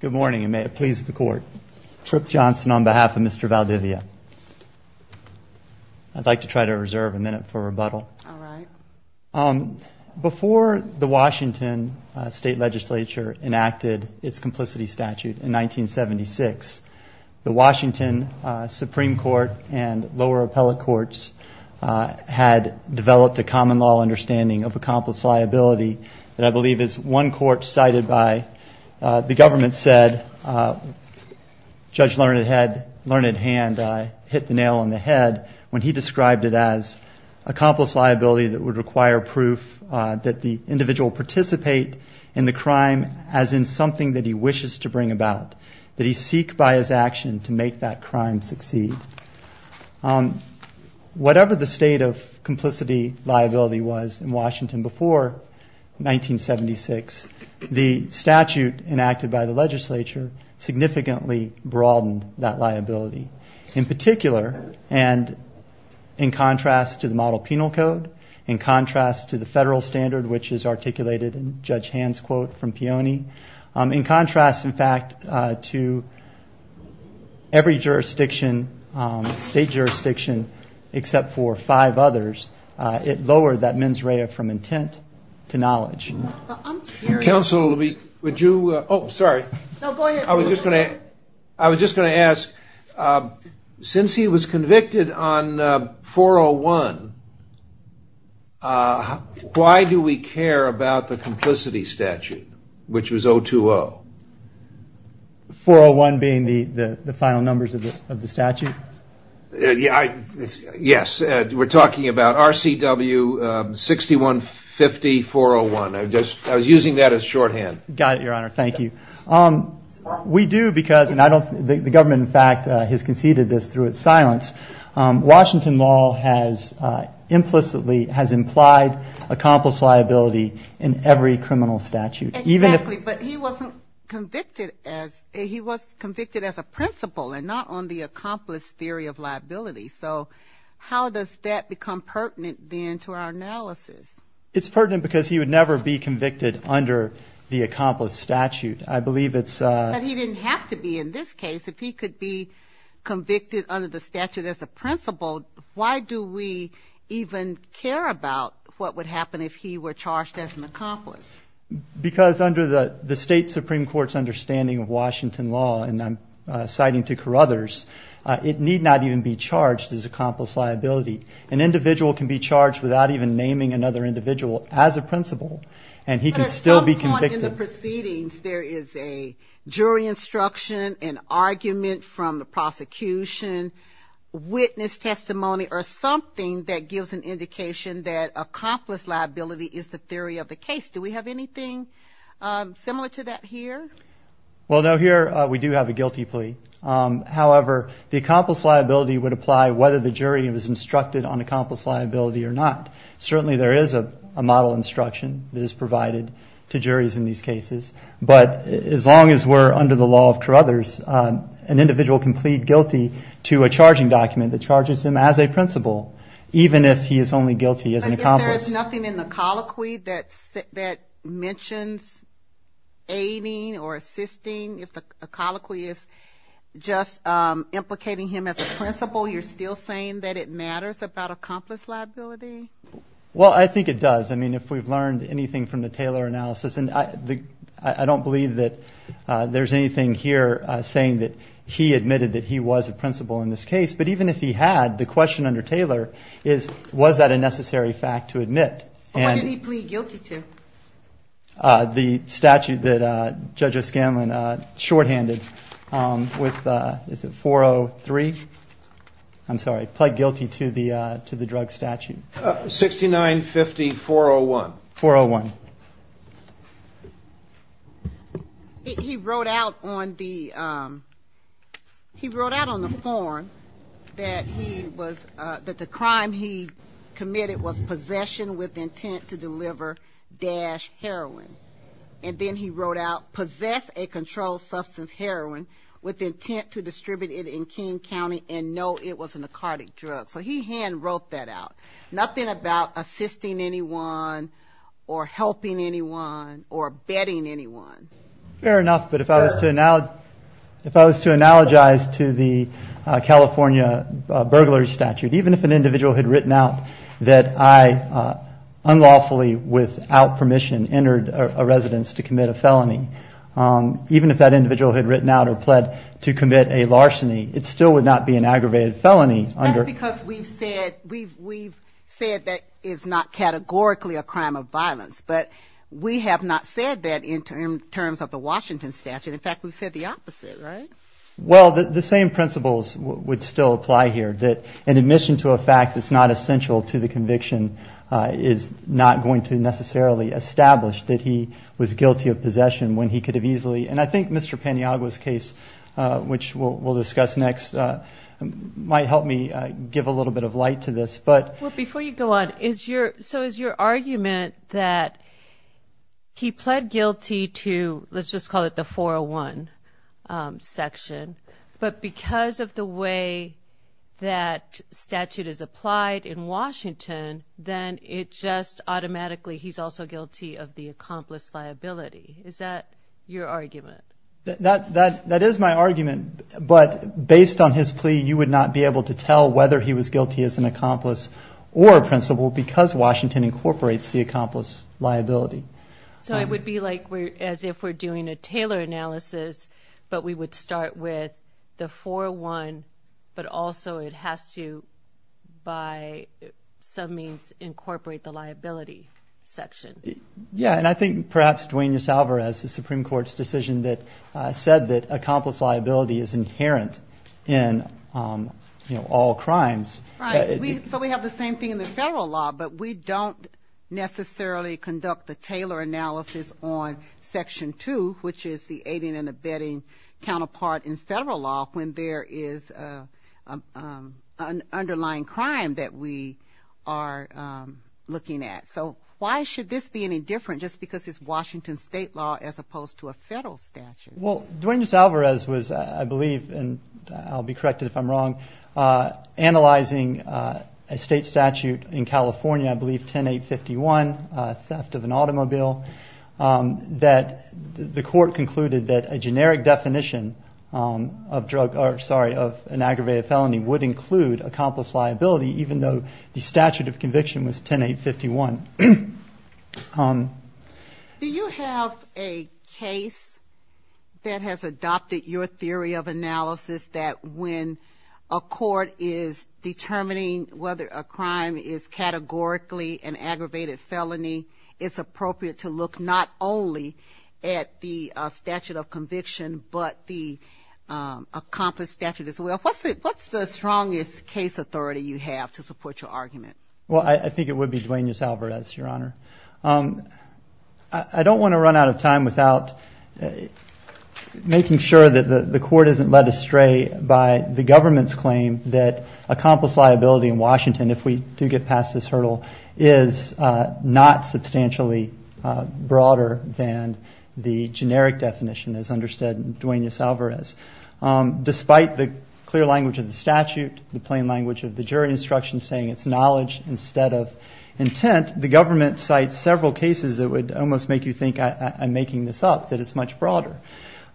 Good morning, and may it please the Court. Trip Johnson on behalf of Mr. Valdivia. I'd like to try to reserve a minute for rebuttal. All right. Before the Washington State Legislature enacted its complicity statute in 1976, the Washington Supreme Court and lower appellate courts had developed a common law understanding of accomplice liability that I believe is one court cited by the government said, Judge Learned Hand hit the nail on the head when he described it as accomplice liability that would require proof that the individual participate in the crime as in something that he wishes to bring about, that he seek by his action to make that crime succeed. Whatever the state of complicity liability was in Washington before 1976, the statute enacted by the legislature significantly broadened that liability. In particular, and in contrast to the model penal code, in contrast to the federal standard which is articulated in Judge Hand's quote from Peone, in contrast, in fact, to every jurisdiction, state jurisdiction except for five others, it lowered that mens rea from intent to knowledge. Counsel, would you, oh, sorry. No, go ahead. I was just going to ask, since he was convicted on 401, why do we care about the complicity statute, which was 020? 401 being the final numbers of the statute? Yes. We're talking about RCW 6150-401. I was using that as shorthand. Got it, Your Honor. Thank you. We do because, and the government, in fact, has conceded this through its silence. Washington law has implicitly, has implied accomplice liability in every criminal statute. Exactly, but he wasn't convicted as, he was convicted as a principal and not on the accomplice theory of liability. So how does that become pertinent then to our analysis? It's pertinent because he would never be convicted under the accomplice statute. But he didn't have to be in this case. If he could be convicted under the statute as a principal, why do we even care about what would happen if he were charged as an accomplice? Because under the State Supreme Court's understanding of Washington law, and I'm citing to Carruthers, it need not even be charged as accomplice liability. An individual can be charged without even naming another individual as a principal, and he can still be convicted. In the proceedings, there is a jury instruction, an argument from the prosecution, witness testimony or something that gives an indication that accomplice liability is the theory of the case. Do we have anything similar to that here? Well, no, here we do have a guilty plea. However, the accomplice liability would apply whether the jury was instructed on accomplice liability or not. Certainly there is a model instruction that is provided to juries in these cases. But as long as we're under the law of Carruthers, an individual can plead guilty to a charging document that charges him as a principal, even if he is only guilty as an accomplice. But if there is nothing in the colloquy that mentions aiding or assisting, if the colloquy is just implicating him as a principal, you're still saying that it matters about accomplice liability? Well, I think it does. I mean, if we've learned anything from the Taylor analysis, and I don't believe that there's anything here saying that he admitted that he was a principal in this case. But even if he had, the question under Taylor is, was that a necessary fact to admit? What did he plead guilty to? The statute that Judge O'Scanlan shorthanded with, is it 403? I'm sorry, plead guilty to the drug statute. 6950-401. 401. He wrote out on the form that the crime he committed was possession with intent to deliver dash heroin. And then he wrote out, possess a controlled substance heroin with intent to distribute it in King County and know it was a narcotic drug. So he hand wrote that out. Nothing about assisting anyone or helping anyone or betting anyone. Fair enough, but if I was to analogize to the California burglary statute, even if an individual had written out that I unlawfully, without permission, entered a residence to commit a felony, even if that individual had written out or pled to commit a larceny, it still would not be an aggravated felony under. That's because we've said that is not categorically a crime of violence. But we have not said that in terms of the Washington statute. In fact, we've said the opposite, right? Well, the same principles would still apply here, that an admission to a fact that's not essential to the conviction is not going to necessarily establish that he was guilty of possession when he could have easily. And I think Mr. Paniagua's case, which we'll discuss next, might help me give a little bit of light to this. But before you go on, is your. So is your argument that he pled guilty to. Let's just call it the 401 section. But because of the way that statute is applied in Washington, then it just automatically he's also guilty of the accomplice liability. Is that your argument? That is my argument. But based on his plea, you would not be able to tell whether he was guilty as an accomplice or a principal because Washington incorporates the accomplice liability. So it would be like as if we're doing a Taylor analysis, but we would start with the 401, but also it has to by some means incorporate the liability section. Yeah. And I think perhaps Dwayne, yourself or as the Supreme Court's decision that said that accomplice liability is inherent in all crimes. So we have the same thing in the federal law, but we don't necessarily conduct the Taylor analysis on section two, which is the aiding and abetting counterpart in federal law. When there is an underlying crime that we are looking at. So why should this be any different? Just because it's Washington state law as opposed to a federal statute. Well, Dwayne just Alvarez was, I believe, and I'll be corrected if I'm wrong. Analyzing a state statute in California, I believe 10, eight 51 theft of an automobile that the court concluded that a generic definition of drug, or sorry, of an aggravated felony would include accomplice liability, even though the statute of conviction was 10, eight 51. Do you have a case that has adopted your theory of analysis that when a court is determining whether a crime is categorically an aggravated felony, it's appropriate to look not only at the statute of conviction, but the accomplished statute as well. What's the, what's the strongest case authority you have to support your argument? Well, I think it would be Dwayne yourself or as your honor. I don't want to run out of time without making sure that the, the court isn't led astray by the government's claim that accomplish liability in Washington. If we do get past this hurdle is not substantially broader than the generic definition is understood. Despite the clear language of the statute, the plain language of the jury instruction, saying it's knowledge instead of intent, the government sites, several cases that would almost make you think I'm making this up, that it's much broader.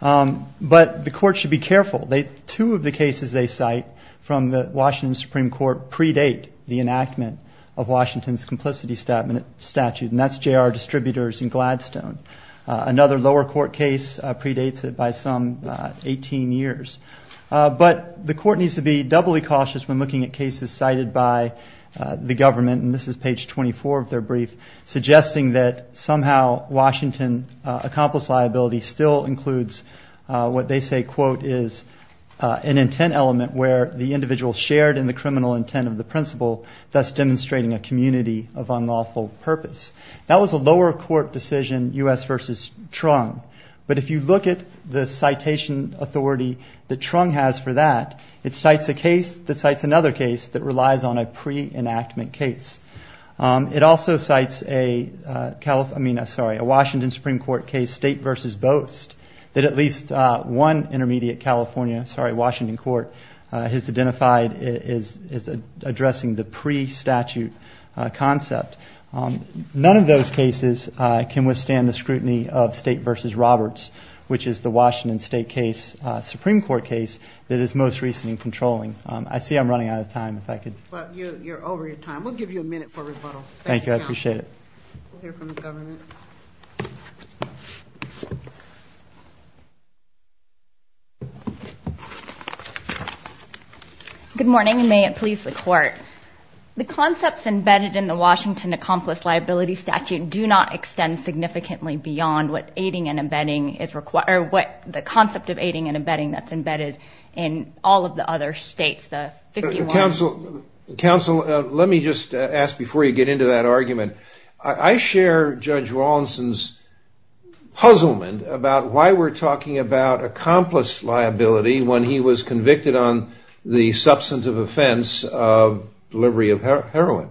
But the court should be careful. They, two of the cases they cite from the Washington Supreme court predate the enactment of Washington's complicity statement statute. And that's Jr. distributors in Gladstone. Another lower court case predates it by some 18 years. But the court needs to be doubly cautious when looking at cases cited by the government. And this is page 24 of their brief suggesting that somehow Washington accomplished liability still includes what they say, quote, is an intent element where the individual shared in the criminal intent of the principle that's demonstrating a community of unlawful purpose. That was a lower court decision U.S. versus Truong. But if you look at the citation authority that Truong has for that, it cites a case that cites another case that relies on a pre enactment case. It also cites a California, I mean, sorry, a Washington Supreme court case state versus boast that at least one intermediate California, Washington court has identified is, is addressing the pre statute concept. None of those cases can withstand the scrutiny of state versus Roberts, which is the Washington state case, a Supreme court case that is most recently controlling. I see I'm running out of time. In fact, you're over your time. We'll give you a minute for rebuttal. Thank you. I appreciate it. We'll hear from the government. Good morning. May it please the court. The concepts embedded in the Washington accomplice liability statute do not extend significantly beyond what aiding and embedding is required, what the concept of aiding and embedding that's embedded in all of the other states, the 51. Counsel, counsel, let me just ask before you get into that argument, I share judge Rawlinson's puzzlement about why we're talking about accomplice liability when he was convicted on the substantive offense of delivery of heroin.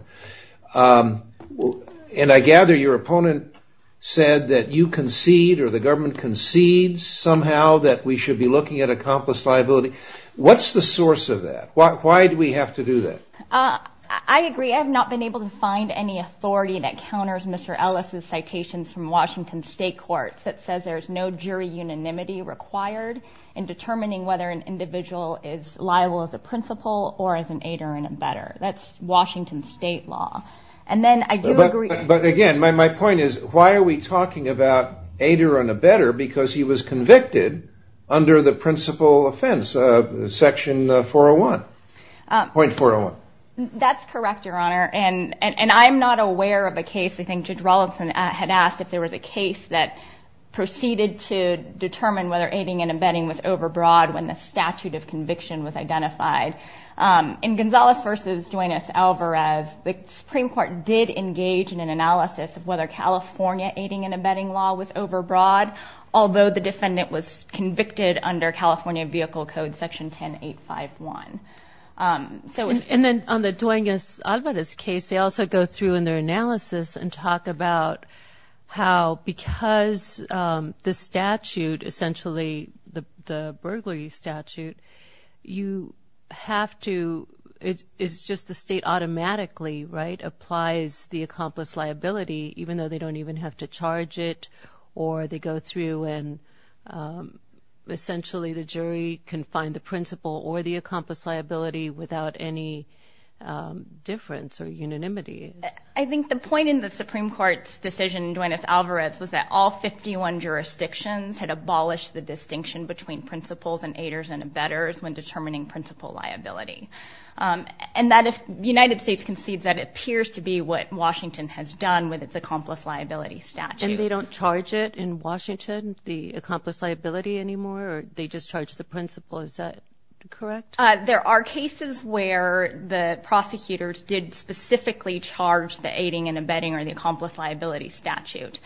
And I gather your opponent said that you concede or the government concedes somehow that we should be looking at accomplice liability. What's the source of that? Why do we have to do that? I agree. I have not been able to find any authority that counters Mr. Ellis's citations from Washington state courts that says there's no jury unanimity required in determining whether an individual is liable as a Washington state law. And then I do agree. But again, my, my point is why are we talking about aider and a better because he was convicted under the principle offense of section 4 0 1 0.4 0 1. That's correct, your honor. And, and I'm not aware of a case. I think judge Rawlinson had asked if there was a case that proceeded to determine whether aiding and embedding was overbroad when the statute of conviction was identified. In Gonzalez versus Duenas Alvarez, the Supreme court did engage in an analysis of whether California aiding and embedding law was overbroad. Although the defendant was convicted under California vehicle code section 10, eight, five, one. So, and then on the Duenas Alvarez case, they also go through in their analysis and talk about how, because the statute essentially the, the burglary statute, you have to, it is just the state automatically, right? Applies the accomplice liability, even though they don't even have to charge it or they go through and essentially the jury can find the principal or the accomplice liability without any difference or unanimity. I think the point in the Supreme court's decision, Duenas Alvarez was that all 51 jurisdictions had abolished the distinction between principals and aiders and embedders when determining principal liability. And that if United States concedes that appears to be what Washington has done with its accomplice liability statute. And they don't charge it in Washington, the accomplice liability anymore, or they just charge the principal. Is that correct? There are cases where the prosecutors did specifically charge the aiding and embedding or the accomplice liability statute.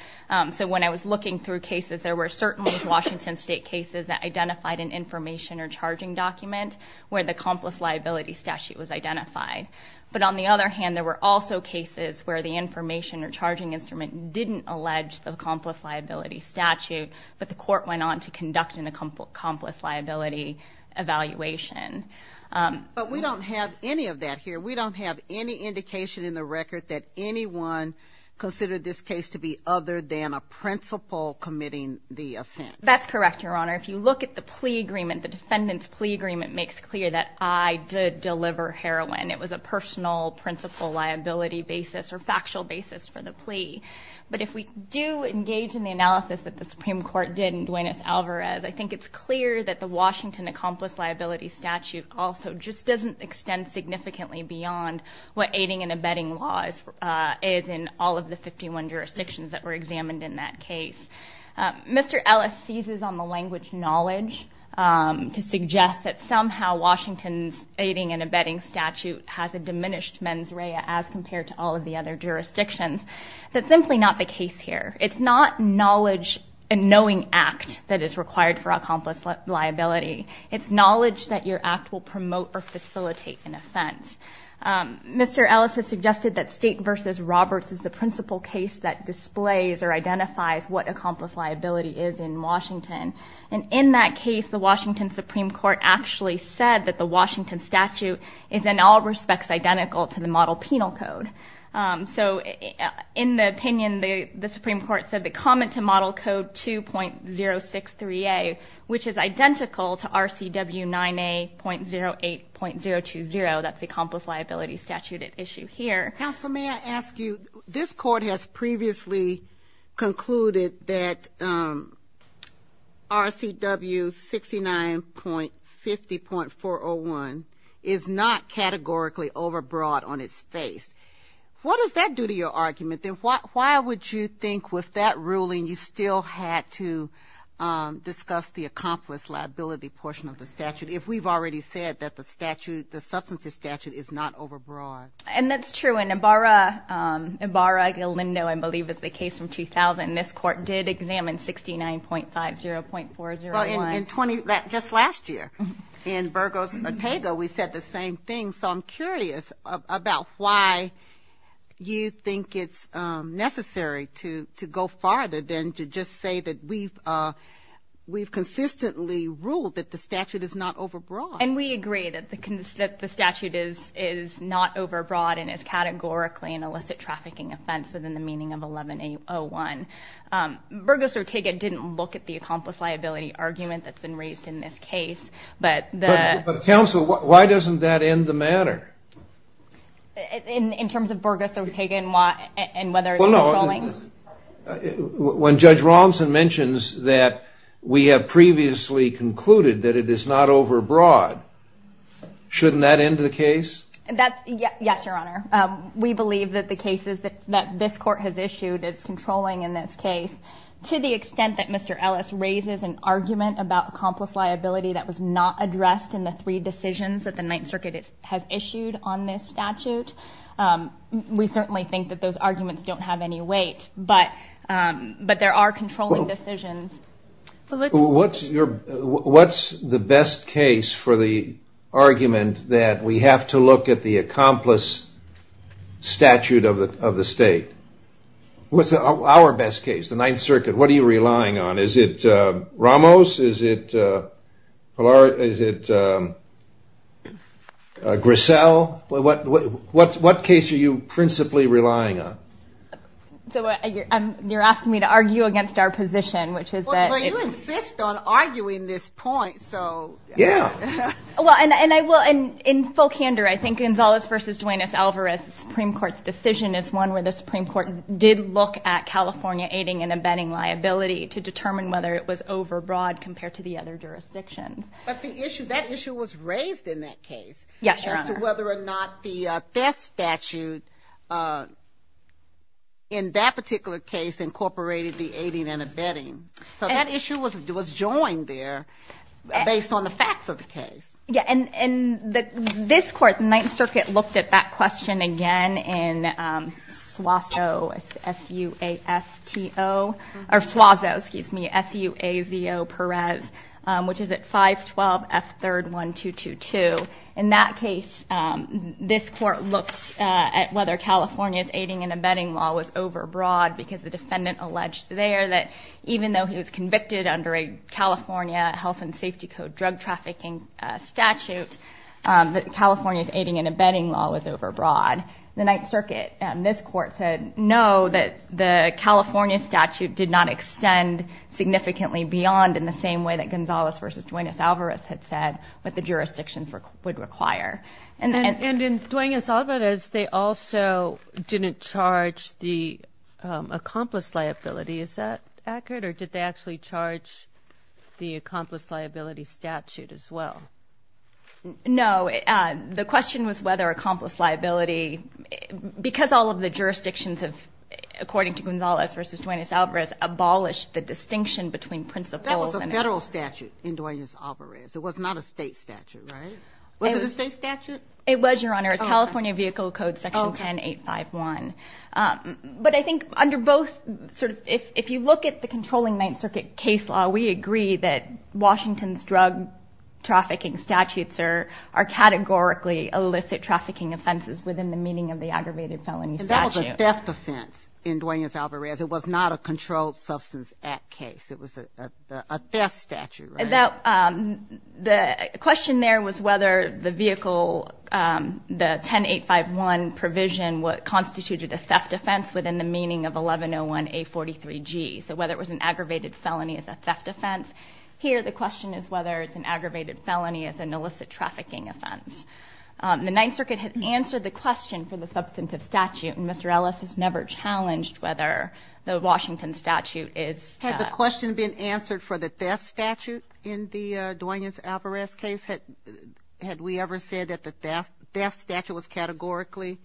So when I was looking through cases, there were certain Washington state cases that identified an information or charging document where the accomplice liability statute was identified. But on the other hand, there were also cases where the information or charging instrument didn't allege the accomplice liability statute, but the court went on to conduct an accomplice liability evaluation. But we don't have any of that here. We don't have any indication in the record that anyone considered this case to be other than a principal committing the offense. That's correct, Your Honor. If you look at the plea agreement, the defendant's plea agreement makes clear that I did deliver heroin. It was a personal principal liability basis or factual basis for the plea. But if we do engage in the analysis that the Supreme Court did in Duenes Alvarez, I think it's clear that the Washington accomplice liability statute also just doesn't extend significantly beyond what aiding and embedding laws is in all of the 51 jurisdictions that were examined in that case. Mr. Ellis seizes on the language knowledge to suggest that somehow Washington's aiding and embedding statute has a diminished mens rea as compared to all of the other jurisdictions. That's simply not the case here. It's not knowledge and knowing act that is required for accomplice liability. It's knowledge that your act will promote or facilitate an offense. Mr. Ellis has suggested that state versus Roberts is the principal case that displays or identifies what accomplice liability is in Washington. And in that case, the Washington Supreme Court actually said that the Washington statute is in all respects identical to the model penal code. So in the opinion, the Supreme Court said the comment to model code 2.063A, which is identical to RCW 9A.08.020. That's the accomplice liability statute at issue here. Counsel, may I ask you, this court has previously concluded that RCW 69.50.401 is not categorically over broad on its face. What does that do to your argument? Then why would you think with that ruling, you still had to discuss the accomplice liability portion of the statute. If we've already said that the statute, the substantive statute is not over broad. And that's true. And Ibarra Galindo, I believe is the case from 2000, this court did examine 69.50.401. Just last year in Burgos Ortega, we said the same thing. So I'm curious about why you think it's necessary to go farther than to just say that we've consistently ruled that the statute is not over broad. And we agree that the statute is not over broad and is categorically an illicit trafficking offense within the meaning of 11A01. Burgos Ortega didn't look at the accomplice liability argument that's been raised in this case. But the. Counsel, why doesn't that end the matter? In terms of Burgos Ortega and whether it's controlling. When Judge Robinson mentions that we have previously concluded that it is not over broad, shouldn't that end the case? Yes, Your Honor. We believe that the cases that this court has issued is controlling in this case. To the extent that Mr. Ellis raises an argument about accomplice liability that was not addressed in the three decisions that the Ninth Circuit has issued on this statute. We certainly think that those arguments don't have any weight. But there are controlling decisions. What's the best case for the argument that we have to look at the accomplice statute of the state? What's our best case? The Ninth Circuit. What are you relying on? Is it Ramos? Is it Grisel? What case are you principally relying on? So you're asking me to argue against our position, which is that. Well, you insist on arguing this point, so. Yeah. Well, and I will. In full candor, I think Gonzales v. Duanez-Alvarez Supreme Court's decision is one where the Supreme Court did look at California aiding and abetting liability to determine whether it was over broad compared to the other jurisdictions. But that issue was raised in that case. Yes, Your Honor. As to whether or not the FESS statute in that particular case incorporated the aiding and abetting. So that issue was joined there based on the facts of the case. Yeah. And this Court, the Ninth Circuit, looked at that question again in Suazo, S-U-A-S-T-O, or Suazo, excuse me, S-U-A-Z-O Perez, which is at 512 F3rd 1222. In that case, this Court looked at whether California's aiding and abetting law was over broad because the defendant alleged there that even though he was convicted under a California Health and Safety Code drug trafficking statute, that California's aiding and abetting law was over broad. The Ninth Circuit and this Court said no, that the California statute did not extend significantly beyond in the same way that Gonzales v. Duenas Alvarez had said what the jurisdictions would require. And in Duenas Alvarez, they also didn't charge the accomplice liability. Is that accurate? Or did they actually charge the accomplice liability statute as well? No. The question was whether accomplice liability, because all of the jurisdictions have, according to Gonzales v. Duenas Alvarez, abolished the distinction between principles. It was a federal statute in Duenas Alvarez. It was not a state statute, right? Was it a state statute? It was, Your Honor. It's California Vehicle Code Section 10851. But I think under both, if you look at the controlling Ninth Circuit case law, we agree that Washington's drug trafficking statutes are categorically illicit trafficking offenses within the meaning of the aggravated felony statute. And that was a theft offense in Duenas Alvarez. It was not a Controlled Substance Act case. It was a theft statute, right? The question there was whether the vehicle, the 10851 provision constituted a theft offense within the meaning of 1101A43G. So whether it was an aggravated felony as a theft offense. Here the question is whether it's an aggravated felony as an illicit trafficking offense. The Ninth Circuit had answered the question for the substantive statute, and Mr. Ellis has never challenged whether the Washington statute is a theft statute in the Duenas Alvarez case. Had we ever said that the theft statute was categorically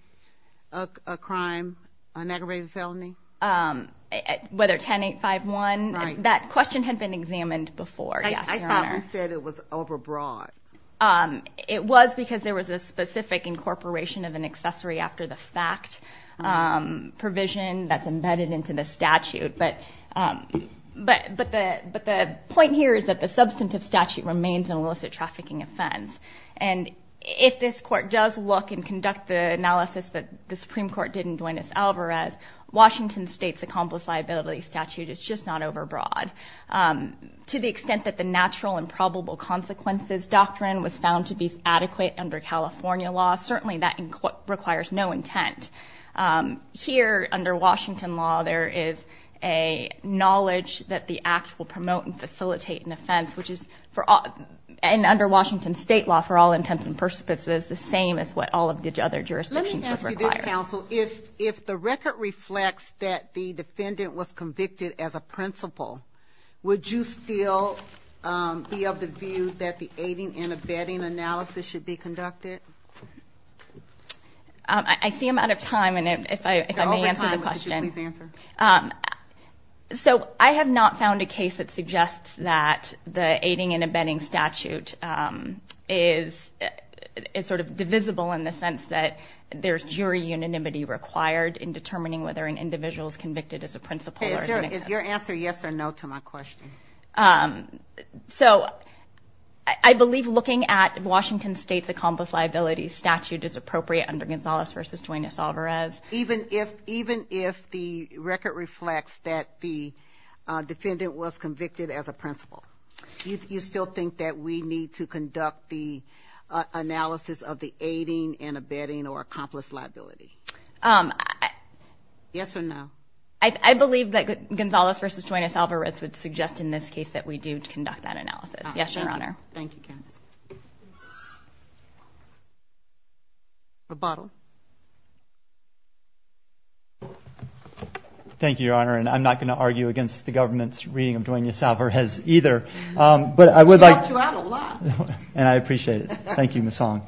a crime, an aggravated felony? Whether 10851. Right. That question had been examined before, yes, Your Honor. I thought we said it was overbroad. It was because there was a specific incorporation of an accessory after the fact provision that's embedded into the statute. But the point here is that the substantive statute remains an illicit trafficking offense. And if this Court does look and conduct the analysis that the Supreme Court did in Duenas Alvarez, Washington State's accomplice liability statute is just not overbroad. To the extent that the natural and probable consequences doctrine was found to be adequate under California law, certainly that requires no intent. Here, under Washington law, there is a knowledge that the act will promote and facilitate an offense. And under Washington State law, for all intents and purposes, the same as what all of the other jurisdictions would require. Let me ask you this, counsel. If the record reflects that the defendant was convicted as a principal, would you still be of the view that the aiding and abetting analysis should be conducted? I see I'm out of time, and if I may answer the question. You're over time, but could you please answer? So I have not found a case that suggests that the aiding and abetting statute is sort of divisible in the sense that there's jury unanimity required in determining whether an individual is convicted as a principal. Is your answer yes or no to my question? So I believe looking at Washington State's accomplice liability statute is appropriate under Gonzales v. Duenas-Alvarez. Even if the record reflects that the defendant was convicted as a principal, you still think that we need to conduct the analysis of the aiding and abetting or accomplice liability? Yes or no. I believe that Gonzales v. Duenas-Alvarez would suggest in this case that we do conduct that analysis. Yes, Your Honor. Thank you. Rebuttal. Thank you, Your Honor. And I'm not going to argue against the government's reading of Duenas-Alvarez either, but I would like to. She helped you out a lot. And I appreciate it. Thank you, Ms. Song.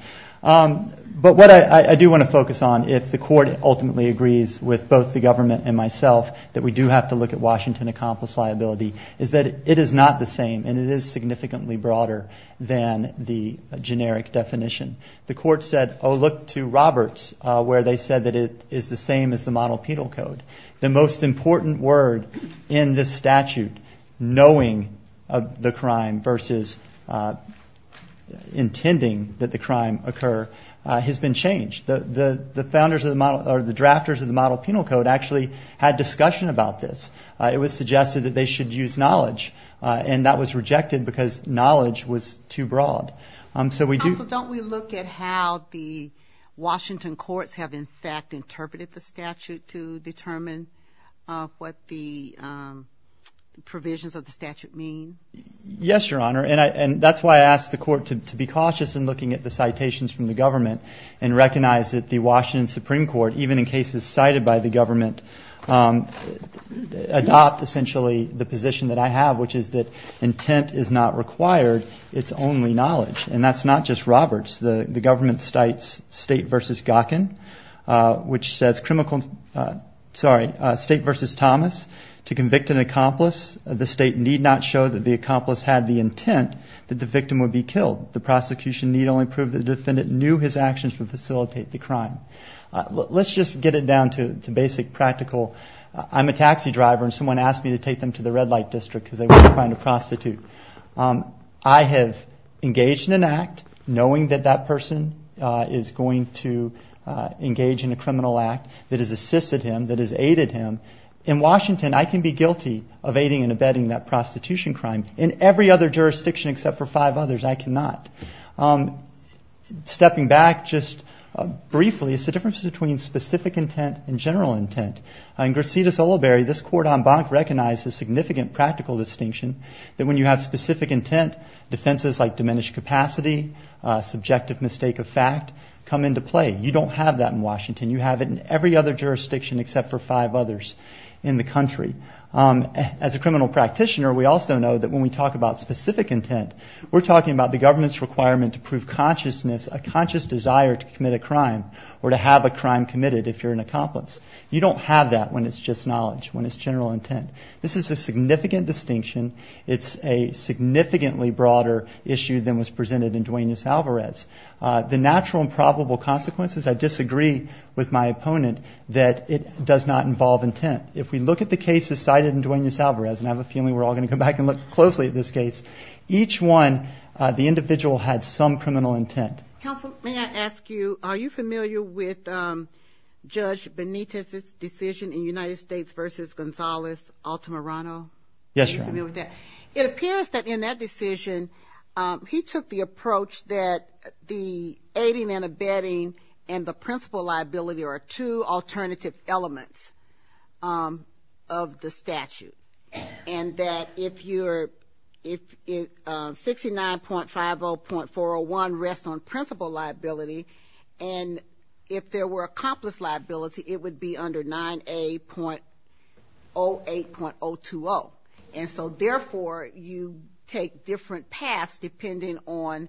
But what I do want to focus on, if the court ultimately agrees with both the defendant and myself, that we do have to look at Washington accomplice liability, is that it is not the same, and it is significantly broader than the generic definition. The court said, oh, look to Roberts, where they said that it is the same as the model penal code. The most important word in this statute, knowing the crime versus intending that the crime occur, has been changed. The founders or the drafters of the model penal code actually had discussion about this. It was suggested that they should use knowledge. And that was rejected because knowledge was too broad. Counsel, don't we look at how the Washington courts have, in fact, interpreted the statute to determine what the provisions of the statute mean? Yes, Your Honor. And that's why I asked the court to be cautious in looking at the citations from the government and recognize that the Washington Supreme Court, even in cases cited by the government, adopt, essentially, the position that I have, which is that intent is not required. It's only knowledge. And that's not just Roberts. The government cites State v. Gawkin, which says state versus Thomas. To convict an accomplice, the state need not show that the accomplice had the intent that the victim would be killed. The prosecution need only prove that the defendant knew his actions would facilitate the crime. Let's just get it down to basic practical. I'm a taxi driver and someone asked me to take them to the red light district because they were trying to prostitute. I have engaged in an act knowing that that person is going to engage in a criminal act that has assisted him, that has aided him. In Washington, I can be guilty of aiding and abetting that prostitution crime. In every other jurisdiction except for five others, I cannot. Stepping back just briefly, it's the difference between specific intent and general intent. In Gracita-Soliberry, this court en banc recognizes significant practical distinction that when you have specific intent, defenses like diminished capacity, subjective mistake of fact, come into play. You don't have that in Washington. You have it in every other jurisdiction except for five others in the country. As a criminal practitioner, we also know that when we talk about specific intent, we're talking about the government's requirement to prove consciousness, a conscious desire to commit a crime or to have a crime committed if you're an accomplice. You don't have that when it's just knowledge, when it's general intent. This is a significant distinction. It's a significantly broader issue than was presented in Duenas-Alvarez. The natural and probable consequences, I disagree with my opponent that it does not involve intent. If we look at the cases cited in Duenas-Alvarez, and I have a feeling we're all going to come back and look closely at this case, each one, the individual had some criminal intent. Counsel, may I ask you, are you familiar with Judge Benitez's decision in United States versus Gonzalez-Altamirano? Yes, Your Honor. Are you familiar with that? It appears that in that decision, he took the approach that the aiding and abetting and the principal liability are two alternative elements of the statute. And that if 69.50.401 rests on principal liability, and if there were accomplice liability, it would be under 9A.08.020. And so, therefore, you take different paths depending on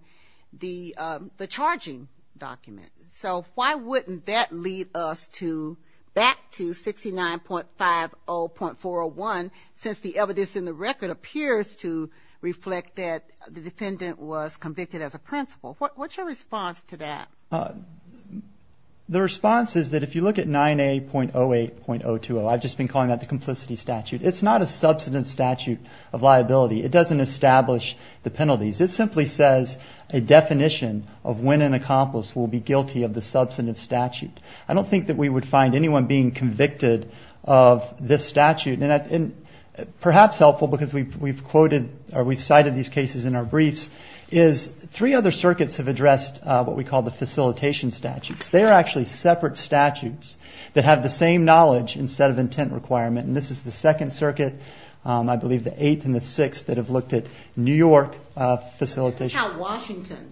the charging document. So why wouldn't that lead us back to 69.50.401 since the evidence in the record appears to reflect that the defendant was convicted as a principal? What's your response to that? The response is that if you look at 9A.08.020, I've just been calling that the complicity statute, it's not a subsidence statute of liability. It doesn't establish the penalties. It simply says a definition of when an accomplice will be guilty of the substantive statute. I don't think that we would find anyone being convicted of this statute. And perhaps helpful, because we've cited these cases in our briefs, is three other circuits have addressed what we call the facilitation statutes. They are actually separate statutes that have the same knowledge instead of intent requirement. And this is the Second Circuit, I believe the Eighth and the Sixth, that have looked at New York facilitation. This is how Washington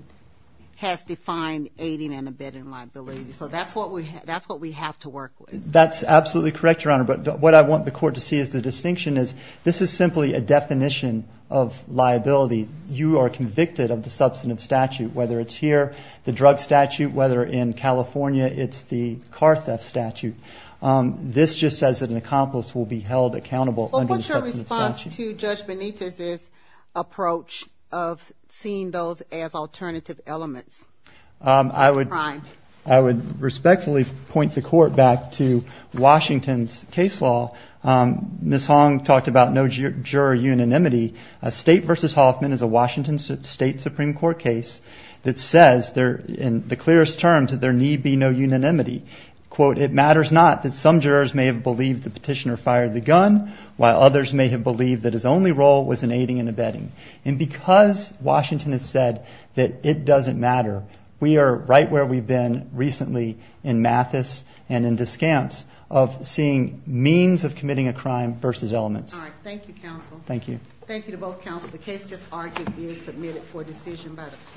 has defined aiding and abetting liability. So that's what we have to work with. That's absolutely correct, Your Honor. But what I want the court to see is the distinction is this is simply a definition of liability. You are convicted of the substantive statute, whether it's here, the drug statute, whether in California it's the car theft statute. This just says that an accomplice will be held accountable under the substantive statute. What is the response to Judge Benitez's approach of seeing those as alternative elements? I would respectfully point the court back to Washington's case law. Ms. Hong talked about no juror unanimity. A State v. Hoffman is a Washington State Supreme Court case that says in the clearest terms that there need be no unanimity. Quote, it matters not that some jurors may have believed the petitioner fired the gun, while others may have believed that his only role was in aiding and abetting. And because Washington has said that it doesn't matter, we are right where we've been recently in Mathis and in Descamps of seeing means of committing a crime versus elements. All right. Thank you, counsel. Thank you. The case just argued is submitted for decision by the court.